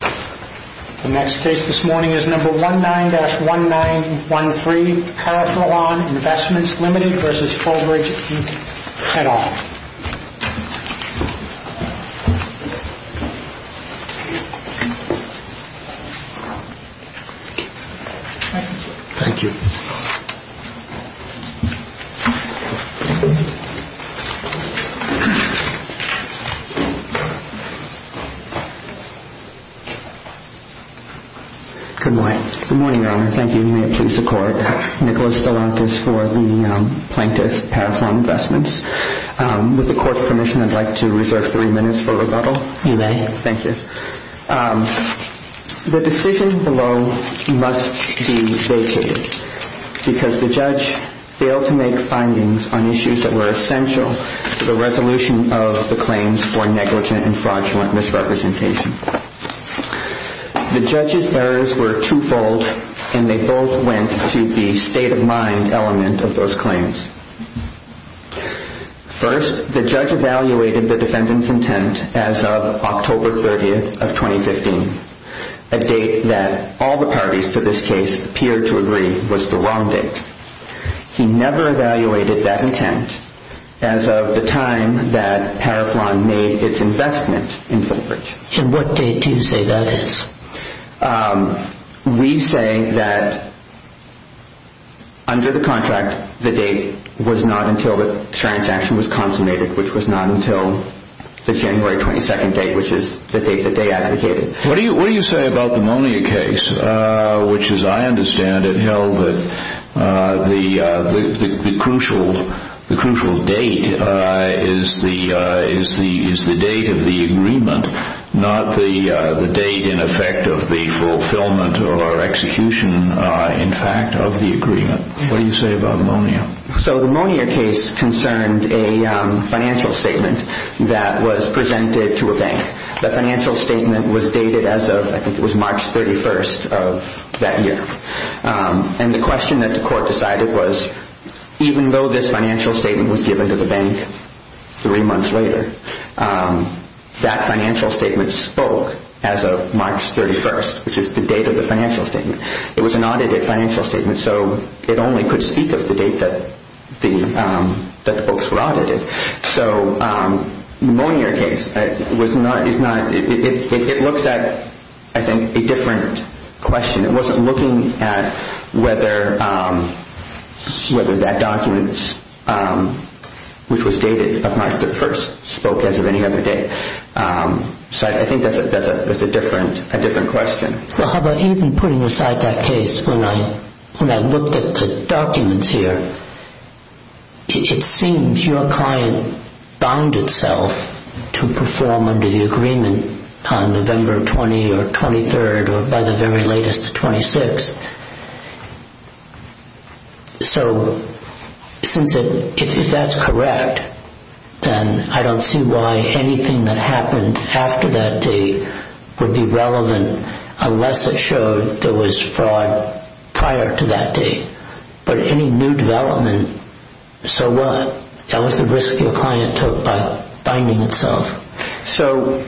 The next case this morning is number 19-1913, Carroflon Investments, Ltd. v. Fullbridge, Inc., et al. Thank you. Good morning. Good morning, Your Honor. Thank you. You may please accord Nicholas DeLantis for the plaintiff, Carroflon Investments. With the court's permission, I'd like to reserve three minutes for rebuttal. You may. Thank you. The decision below must be vacated because the judge failed to make findings on issues that were essential to the resolution of the claims for negligent and fraudulent misrepresentation. The judge's errors were two-fold, and they both went to the state-of-mind element of those claims. First, the judge evaluated the defendant's intent as of October 30th of 2015, a date that all the parties to this case appeared to agree was the wrong date. He never evaluated that intent as of the time that Carroflon made its investment in Fullbridge. And what date do you say that is? We say that under the contract, the date was not until the transaction was consummated, which was not until the January 22nd date, which is the date that they advocated. What do you say about the Monier case, which, as I understand it, held that the crucial date is the date of the agreement, not the date, in effect, of the fulfillment or execution, in fact, of the agreement? What do you say about Monier? So the Monier case concerned a financial statement that was presented to a bank. The financial statement was dated as of, I think it was March 31st of that year. And the question that the court decided was, even though this financial statement was given to the bank three months later, that financial statement spoke as of March 31st, which is the date of the financial statement. It was an audited financial statement, so it only could speak of the date that the books were audited. So the Monier case, it looks at, I think, a different question. It wasn't looking at whether that document, which was dated of March 31st, spoke as of any other date. So I think that's a different question. Well, how about even putting aside that case, when I looked at the documents here, it seems your client bound itself to perform under the agreement on November 20th or 23rd or, by the very latest, the 26th. So if that's correct, then I don't see why anything that happened after that date would be relevant unless it showed there was fraud prior to that date. But any new development, so what? That was the risk your client took by binding itself. So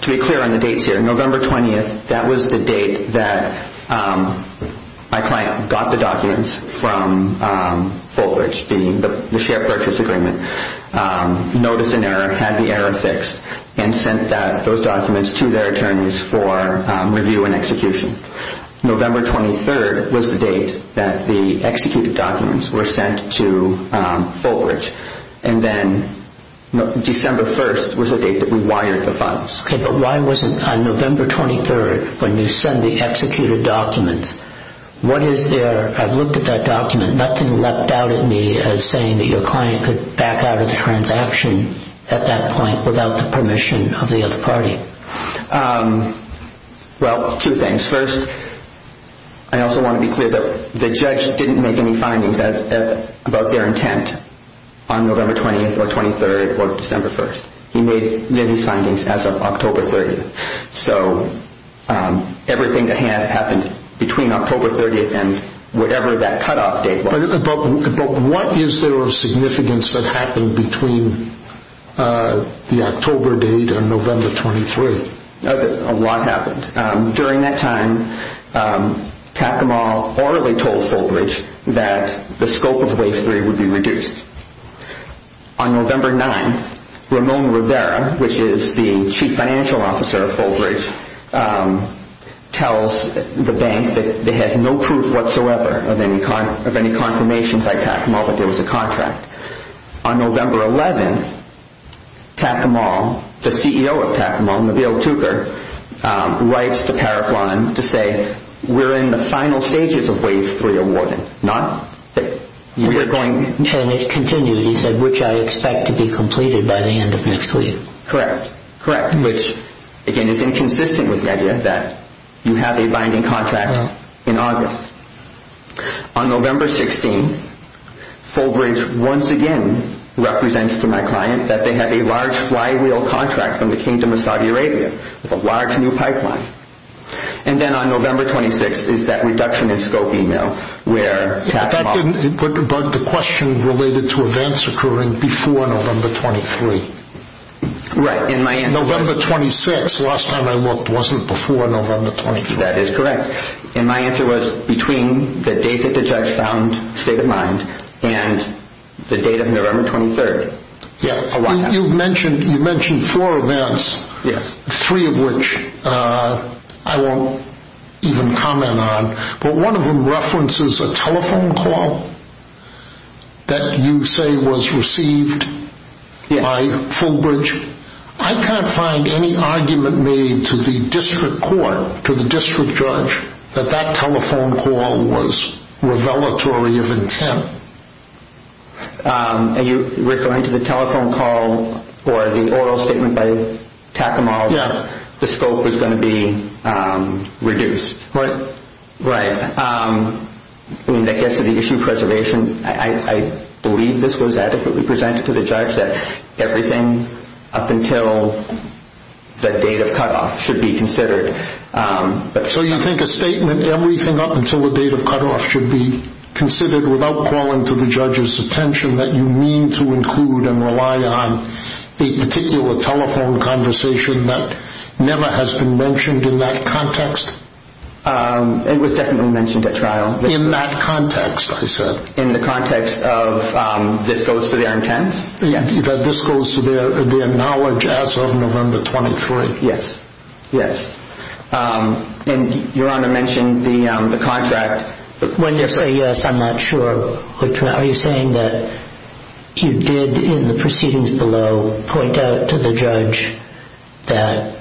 to be clear on the dates here, November 20th, that was the date that my client got the documents from Fulbridge, the share purchase agreement, noticed an error, had the error fixed, and sent those documents to their attorneys for review and execution. November 23rd was the date that the executed documents were sent to Fulbridge, and then December 1st was the date that we wired the funds. Okay, but why wasn't on November 23rd, when you send the executed documents, what is there? I've looked at that document. Nothing leapt out at me as saying that your client could back out of the transaction at that point without the permission of the other party. Well, two things. First, I also want to be clear that the judge didn't make any findings about their intent on November 20th or 23rd or December 1st. He made his findings as of October 30th. So everything that happened between October 30th and whatever that cutoff date was... But what is there of significance that happened between the October date and November 23rd? A lot happened. During that time, Kakamal orally told Fulbridge that the scope of Wave 3 would be reduced. On November 9th, Ramon Rivera, which is the Chief Financial Officer of Fulbridge, tells the bank that it has no proof whatsoever of any confirmation by Kakamal that there was a contract. On November 11th, Kakamal, the CEO of Kakamal, Nabil Tugar, writes to Paraflan to say, We're in the final stages of Wave 3 awarding, not that we're going... And it continues, he said, which I expect to be completed by the end of next week. Correct. Correct. Which, again, is inconsistent with the idea that you have a binding contract in August. On November 16th, Fulbridge once again represents to my client that they have a large flywheel contract from the Kingdom of Saudi Arabia with a large new pipeline. And then on November 26th is that reduction in scope email where Kakamal... But that didn't put the question related to events occurring before November 23rd. Right. In my answer... November 26th, last time I looked, wasn't before November 23rd. That is correct. And my answer was between the date that the judge found state of mind and the date of November 23rd. You've mentioned four events, three of which I won't even comment on. But one of them references a telephone call that you say was received by Fulbridge. I can't find any argument made to the district court, to the district judge, that that telephone call was revelatory of intent. Are you referring to the telephone call or the oral statement by Kakamal where the scope was going to be reduced? Right. Right. I mean, that gets to the issue of preservation. I believe this was adequately presented to the judge that everything up until the date of cutoff should be considered. So you think a statement, everything up until the date of cutoff should be considered without calling to the judge's attention, that you mean to include and rely on a particular telephone conversation that never has been mentioned in that context? It was definitely mentioned at trial. In that context, I said. In the context of this goes for the un-tens? That this goes to their knowledge as of November 23rd. Yes. Yes. And Your Honor mentioned the contract. When you say yes, I'm not sure. Are you saying that you did in the proceedings below point out to the judge that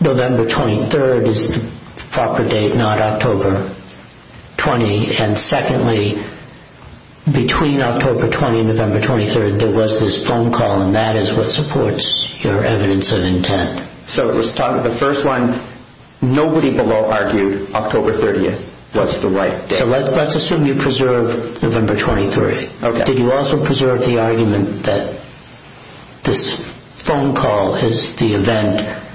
November 23rd is the proper date, not October 20? And secondly, between October 20 and November 23rd, there was this phone call, and that is what supports your evidence of intent. So it was part of the first one. Nobody below argued October 30th was the right date. So let's assume you preserve November 23. Did you also preserve the argument that this phone call is the event?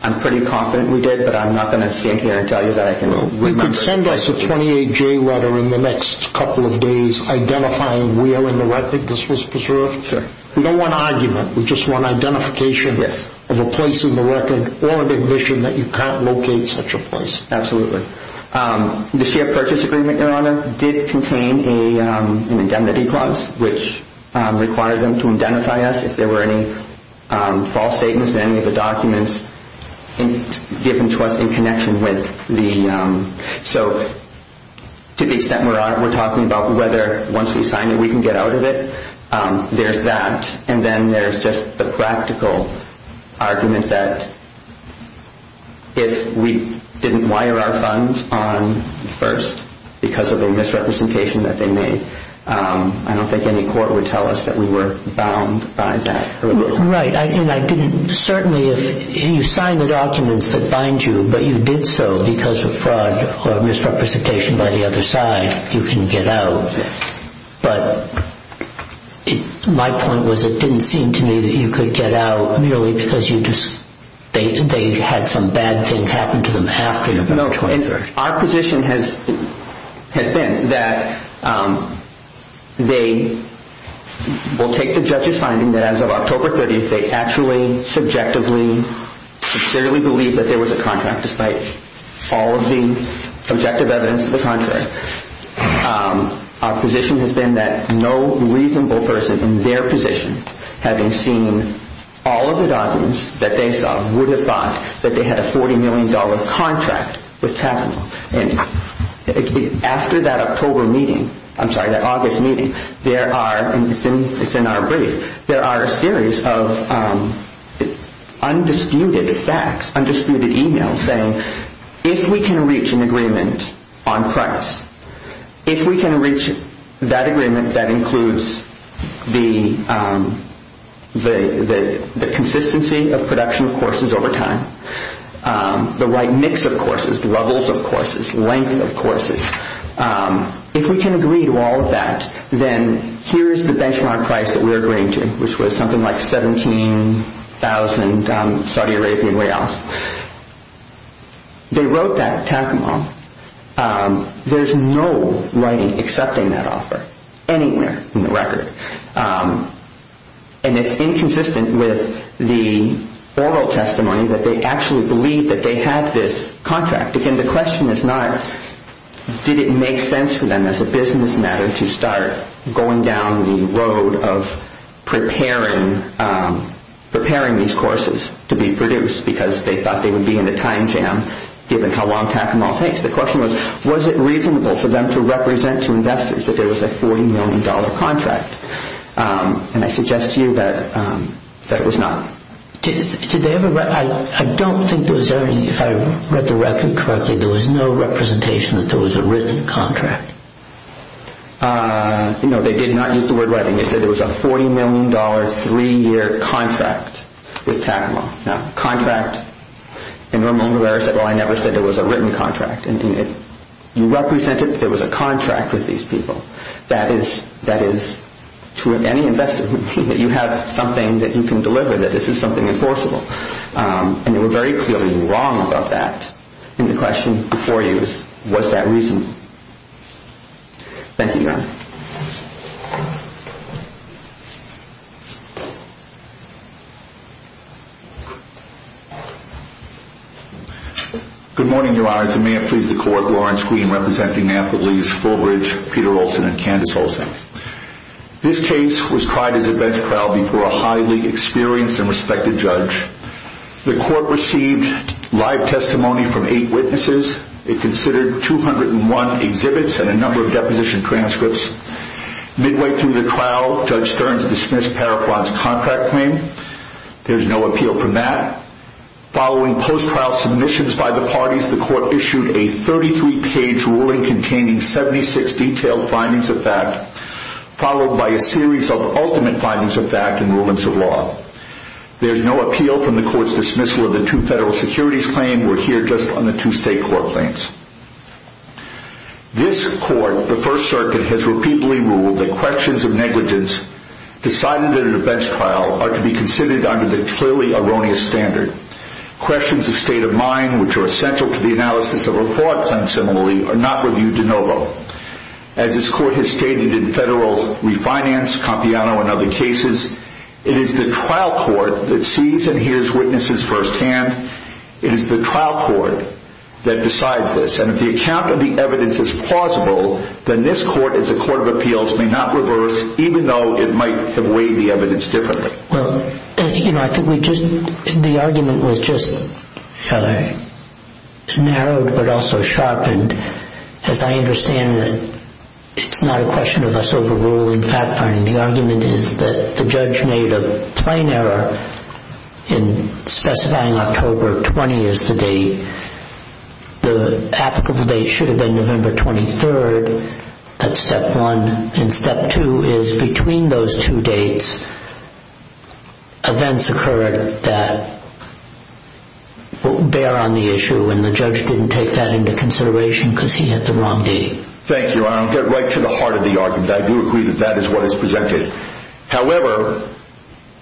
I'm pretty confident we did, but I'm not going to stand here and tell you that I can remember. You could send us a 28-J letter in the next couple of days identifying where in the record this was preserved. Sure. We don't want argument. We just want identification of a place in the record or an admission that you can't locate such a place. Absolutely. The shared purchase agreement, Your Honor, did contain an indemnity clause, which required them to identify us if there were any false statements in any of the documents given to us in connection with the... So to the extent we're talking about whether once we sign it we can get out of it, there's that. And then there's just the practical argument that if we didn't wire our funds on first because of a misrepresentation that they made, I don't think any court would tell us that we were bound by that. Right. And I didn't certainly if you signed the documents that bind you, but you did so because of fraud or misrepresentation by the other side, you can get out. But my point was it didn't seem to me that you could get out merely because they had some bad things happen to them after the military... Our position has been that they will take the judge's finding that as of October 30th, they actually subjectively, sincerely believe that there was a contract despite all of the objective evidence of the contract. Our position has been that no reasonable person in their position, having seen all of the documents that they saw, would have thought that they had a $40 million contract with Kavanaugh. And after that October meeting, I'm sorry, that August meeting, there are, and it's in our brief, there are a series of undisputed facts, undisputed emails saying if we can reach an agreement on price, if we can reach that agreement that includes the consistency of production of courses over time, the right mix of courses, the levels of courses, length of courses, if we can agree to all of that, then here's the benchmark price that we're agreeing to, which was something like 17,000 Saudi Arabian Riyals. They wrote that at Takamaw. There's no writing accepting that offer anywhere in the record. And it's inconsistent with the oral testimony that they actually believe that they had this contract. Again, the question is not did it make sense for them as a business matter to start going down the road of preparing these courses to be produced because they thought they would be in a time jam given how long Takamaw takes. The question was, was it reasonable for them to represent to investors that there was a $40 million contract? And I suggest to you that it was not. I don't think there was any, if I read the record correctly, there was no representation that there was a written contract. No, they did not use the word writing. They said there was a $40 million, three-year contract with Takamaw. Now, contract, and Ramon Rivera said, well, I never said there was a written contract. You represented that there was a contract with these people. That is, to any investor, you have something that you can deliver, that this is something enforceable. And they were very clearly wrong about that. And the question before you is, was that reasonable? Thank you, Your Honor. Good morning, Your Honors. And may it please the Court, Lawrence Green representing Amphibolese, Fulbridge, Peter Olson, and Candace Olson. This case was tried as a bench trial before a highly experienced and respected judge. The Court received live testimony from eight witnesses. It considered 201 exhibits and a number of deposition transcripts. Midway through the trial, Judge Stearns dismissed Parafran's contract claim. There's no appeal from that. Following post-trial submissions by the parties, the Court issued a 33-page ruling containing 76 detailed findings of fact, followed by a series of ultimate findings of fact and rulings of law. There's no appeal from the Court's dismissal of the two federal securities claims. We're here just on the two state court claims. This Court, the First Circuit, has repeatedly ruled that questions of negligence decided at a bench trial are to be considered under the clearly erroneous standard. Questions of state of mind, which are essential to the analysis of a fraud claim similarly, are not reviewed de novo. As this Court has stated in federal refinance, Compiano, and other cases, it is the trial court that sees and hears witnesses firsthand. It is the trial court that decides this. And if the account of the evidence is plausible, then this Court, as a court of appeals, may not reverse, even though it might have weighed the evidence differently. Well, you know, I think we just, the argument was just rather narrowed but also sharpened. As I understand it, it's not a question of us overruling fact-finding. The argument is that the judge made a plain error in specifying October 20 as the date. The applicable date should have been November 23rd. That's step one. And step two is between those two dates, events occurred that bear on the issue and the judge didn't take that into consideration because he had the wrong date. Thank you, Your Honor. I'll get right to the heart of the argument. I do agree that that is what is presented. However,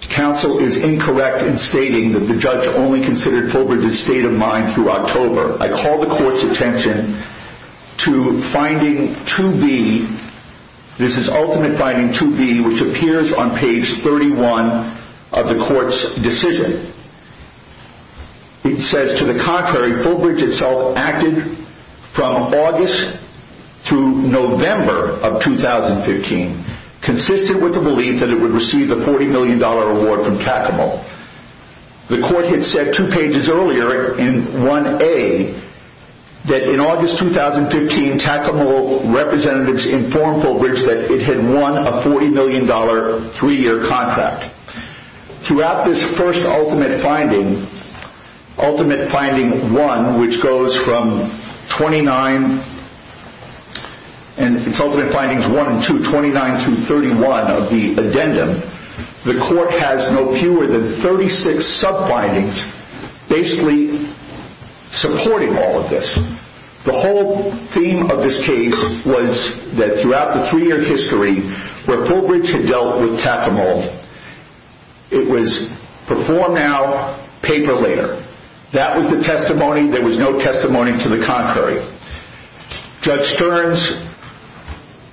counsel is incorrect in stating that the judge only considered Fulbridge's state of mind through October. I call the Court's attention to finding 2B. This is ultimate finding 2B, which appears on page 31 of the Court's decision. It says, to the contrary, Fulbridge itself acted from August through November of 2015, consistent with the belief that it would receive a $40 million award from Kakamo. The Court had said two pages earlier in 1A that in August 2015, Kakamo representatives informed Fulbridge that it had won a $40 million three-year contract. Throughout this first ultimate finding, ultimate finding 1, which goes from 29, and it's ultimate findings 1 and 2, 29 through 31 of the addendum, the Court has no fewer than 36 sub-findings basically supporting all of this. The whole theme of this case was that throughout the three-year history where Fulbridge had dealt with Kakamo, it was before now, paper later. That was the testimony. There was no testimony to the contrary. Judge Stearns,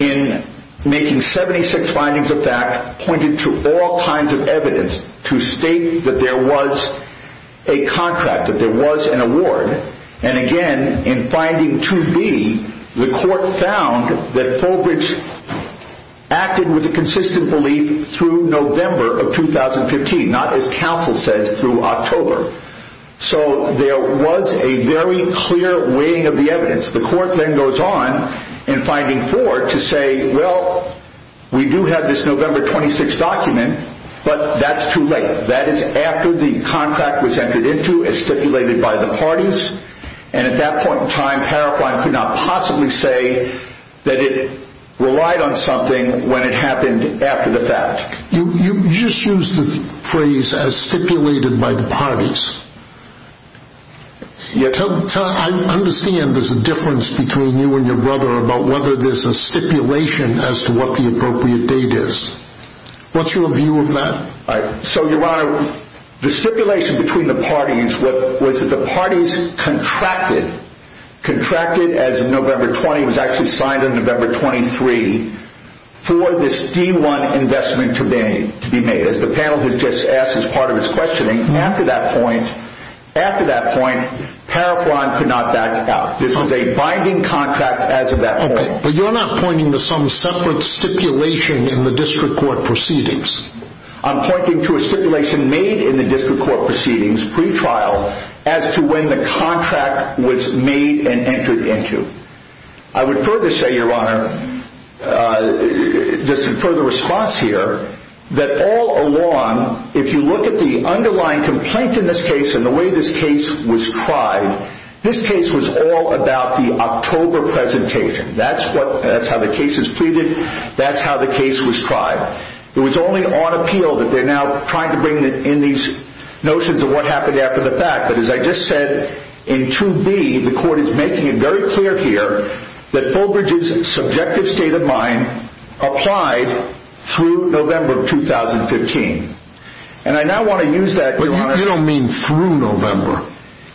in making 76 findings of fact, pointed to all kinds of evidence to state that there was a contract, that there was an award. Again, in finding 2B, the Court found that Fulbridge acted with a consistent belief through November of 2015, not as counsel says, through October. So there was a very clear weighing of the evidence. The Court then goes on in finding 4 to say, well, we do have this November 26 document, but that's too late. That is after the contract was entered into as stipulated by the parties, and at that point in time, Parafine could not possibly say that it relied on something when it happened after the fact. You just used the phrase as stipulated by the parties. I understand there's a difference between you and your brother about whether there's a stipulation as to what the appropriate date is. What's your view of that? So, Your Honor, the stipulation between the parties was that the parties contracted, contracted as of November 20, it was actually signed on November 23, for this D1 investment to be made. As the panel has just asked as part of its questioning, after that point, Parafine could not back out. This was a binding contract as of that point. But you're not pointing to some separate stipulation in the District Court proceedings. I'm pointing to a stipulation made in the District Court proceedings pre-trial as to when the contract was made and entered into. I would further say, Your Honor, just in further response here, that all along, if you look at the underlying complaint in this case and the way this case was tried, this case was all about the October presentation. That's how the case is pleaded. That's how the case was tried. It was only on appeal that they're now trying to bring in these notions of what happened after the fact. But as I just said, in 2B, the Court is making it very clear here that Fulbridge's subjective state of mind applied through November of 2015. And I now want to use that, Your Honor. But you don't mean through November.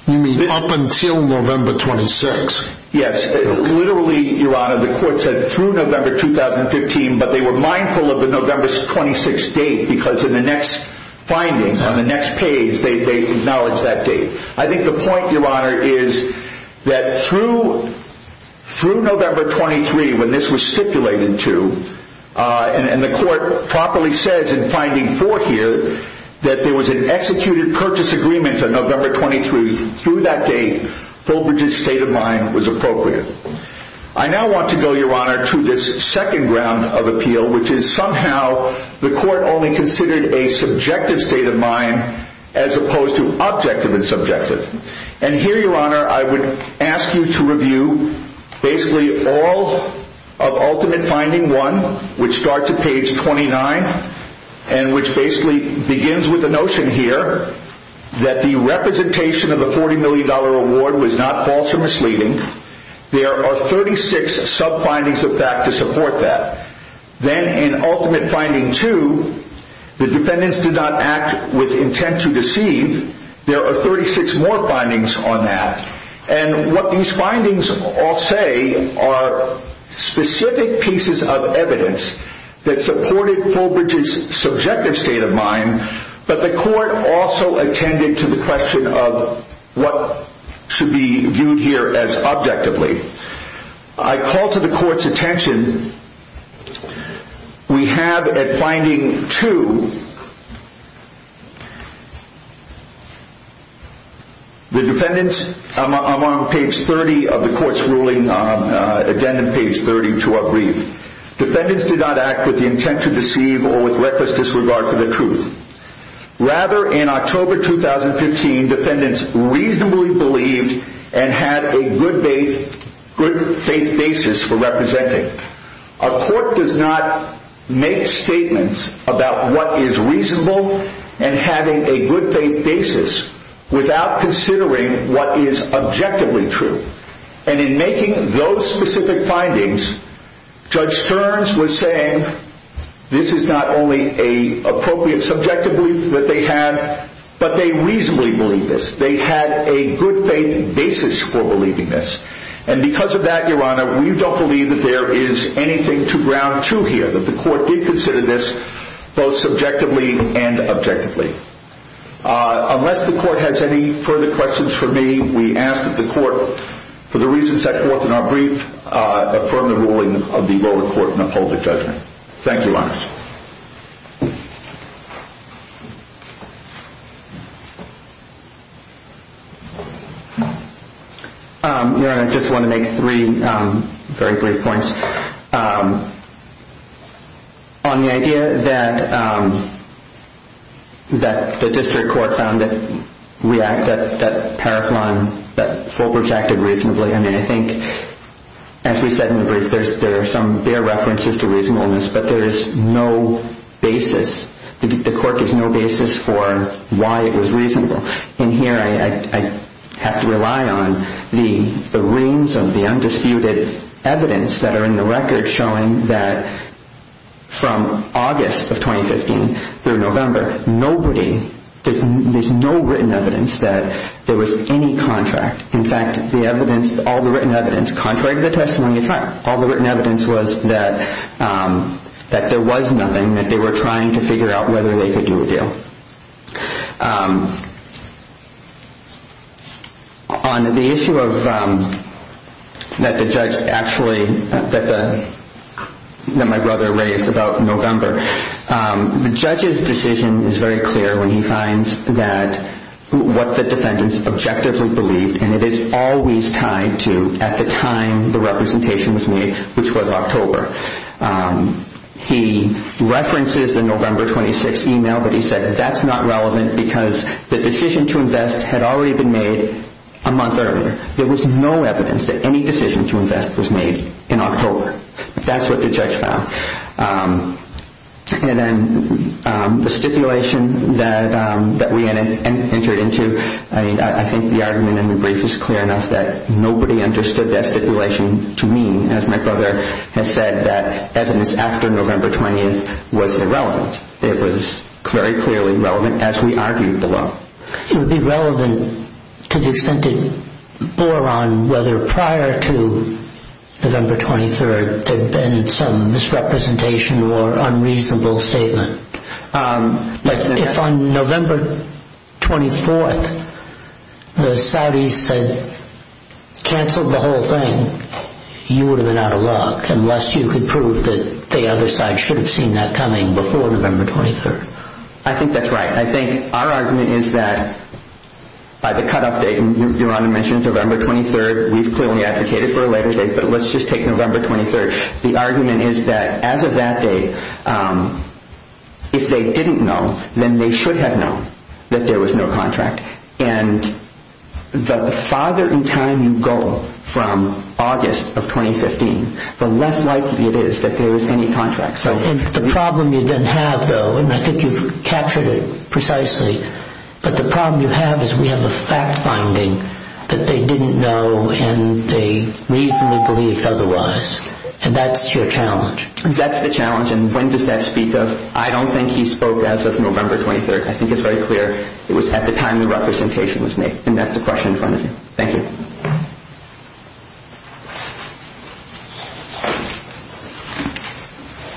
You mean up until November 26. Yes. Literally, Your Honor, the Court said through November 2015, but they were mindful of the November 26 date because in the next finding, on the next page, they acknowledge that date. I think the point, Your Honor, is that through November 23, when this was stipulated to, and the Court properly says in finding 4 here, that there was an executed purchase agreement on November 23. Through that date, Fulbridge's state of mind was appropriate. I now want to go, Your Honor, to this second ground of appeal, which is somehow the Court only considered a subjective state of mind as opposed to objective and subjective. And here, Your Honor, I would ask you to review basically all of ultimate finding 1, which starts at page 29 and which basically begins with the notion here that the representation of a $40 million award was not false or misleading. There are 36 sub-findings of that to support that. Then in ultimate finding 2, the defendants did not act with intent to deceive. There are 36 more findings on that. And what these findings all say are specific pieces of evidence that supported Fulbridge's subjective state of mind, but the Court also attended to the question of what should be viewed here as objectively. I call to the Court's attention, we have at finding 2, the defendants, I'm on page 30 of the Court's ruling, addendum page 30 to our brief. Defendants did not act with the intent to deceive or with reckless disregard for the truth. Rather, in October 2015, defendants reasonably believed and had a good faith basis for representing. A court does not make statements about what is reasonable and having a good faith basis without considering what is objectively true. And in making those specific findings, Judge Stearns was saying this is not only an appropriate subjective belief that they had, but they reasonably believed this. They had a good faith basis for believing this. And because of that, Your Honor, we don't believe that there is anything to ground to here, that the Court did consider this both subjectively and objectively. Unless the Court has any further questions for me, we ask that the Court, for the reasons set forth in our brief, affirm the ruling of the lower court and uphold the judgment. Thank you, Your Honor. Your Honor, I just want to make 3 very brief points. On the idea that the district court found that Paraphron, that Fulbright acted reasonably, I mean, I think, as we said in the brief, there are references to reasonableness, but there is no basis, the court has no basis for why it was reasonable. And here I have to rely on the reams of the undisputed evidence that are in the record showing that from August of 2015 through November, nobody, there is no written evidence that there was any contract. In fact, the evidence, all the written evidence, contrary to the testimony I tried, all the written evidence was that there was nothing, that they were trying to figure out whether they could do a deal. On the issue of, that the judge actually, that my brother raised about November, the judge's decision is very clear when he finds that, what the defendants objectively believed, and it is always tied to at the time the representation was made, which was October. He references the November 26th email, but he said that that's not relevant because the decision to invest had already been made a month earlier. There was no evidence that any decision to invest was made in October. That's what the judge found. And then the stipulation that we entered into, I think the argument in the brief is clear enough that nobody understood that stipulation to mean, as my brother has said, that evidence after November 20th was irrelevant. It was very clearly relevant as we argued the law. It would be relevant to the extent it bore on whether prior to November 23rd there had been some misrepresentation or unreasonable statement. If on November 24th the Saudis said, canceled the whole thing, you would have been out of luck, unless you could prove that the other side should have seen that coming before November 23rd. I think that's right. I think our argument is that by the cutoff date, Your Honor mentioned November 23rd, we've clearly advocated for a later date, but let's just take November 23rd. The argument is that as of that date, if they didn't know, then they should have known that there was no contract. And the farther in time you go from August of 2015, the less likely it is that there was any contract. The problem you then have, though, and I think you've captured it precisely, but the problem you have is we have a fact finding that they didn't know and they reasonably believed otherwise, and that's your challenge. That's the challenge, and when does that speak of? I don't think he spoke as of November 23rd. I think it's very clear it was at the time the representation was made, and that's the question in front of you. Thank you.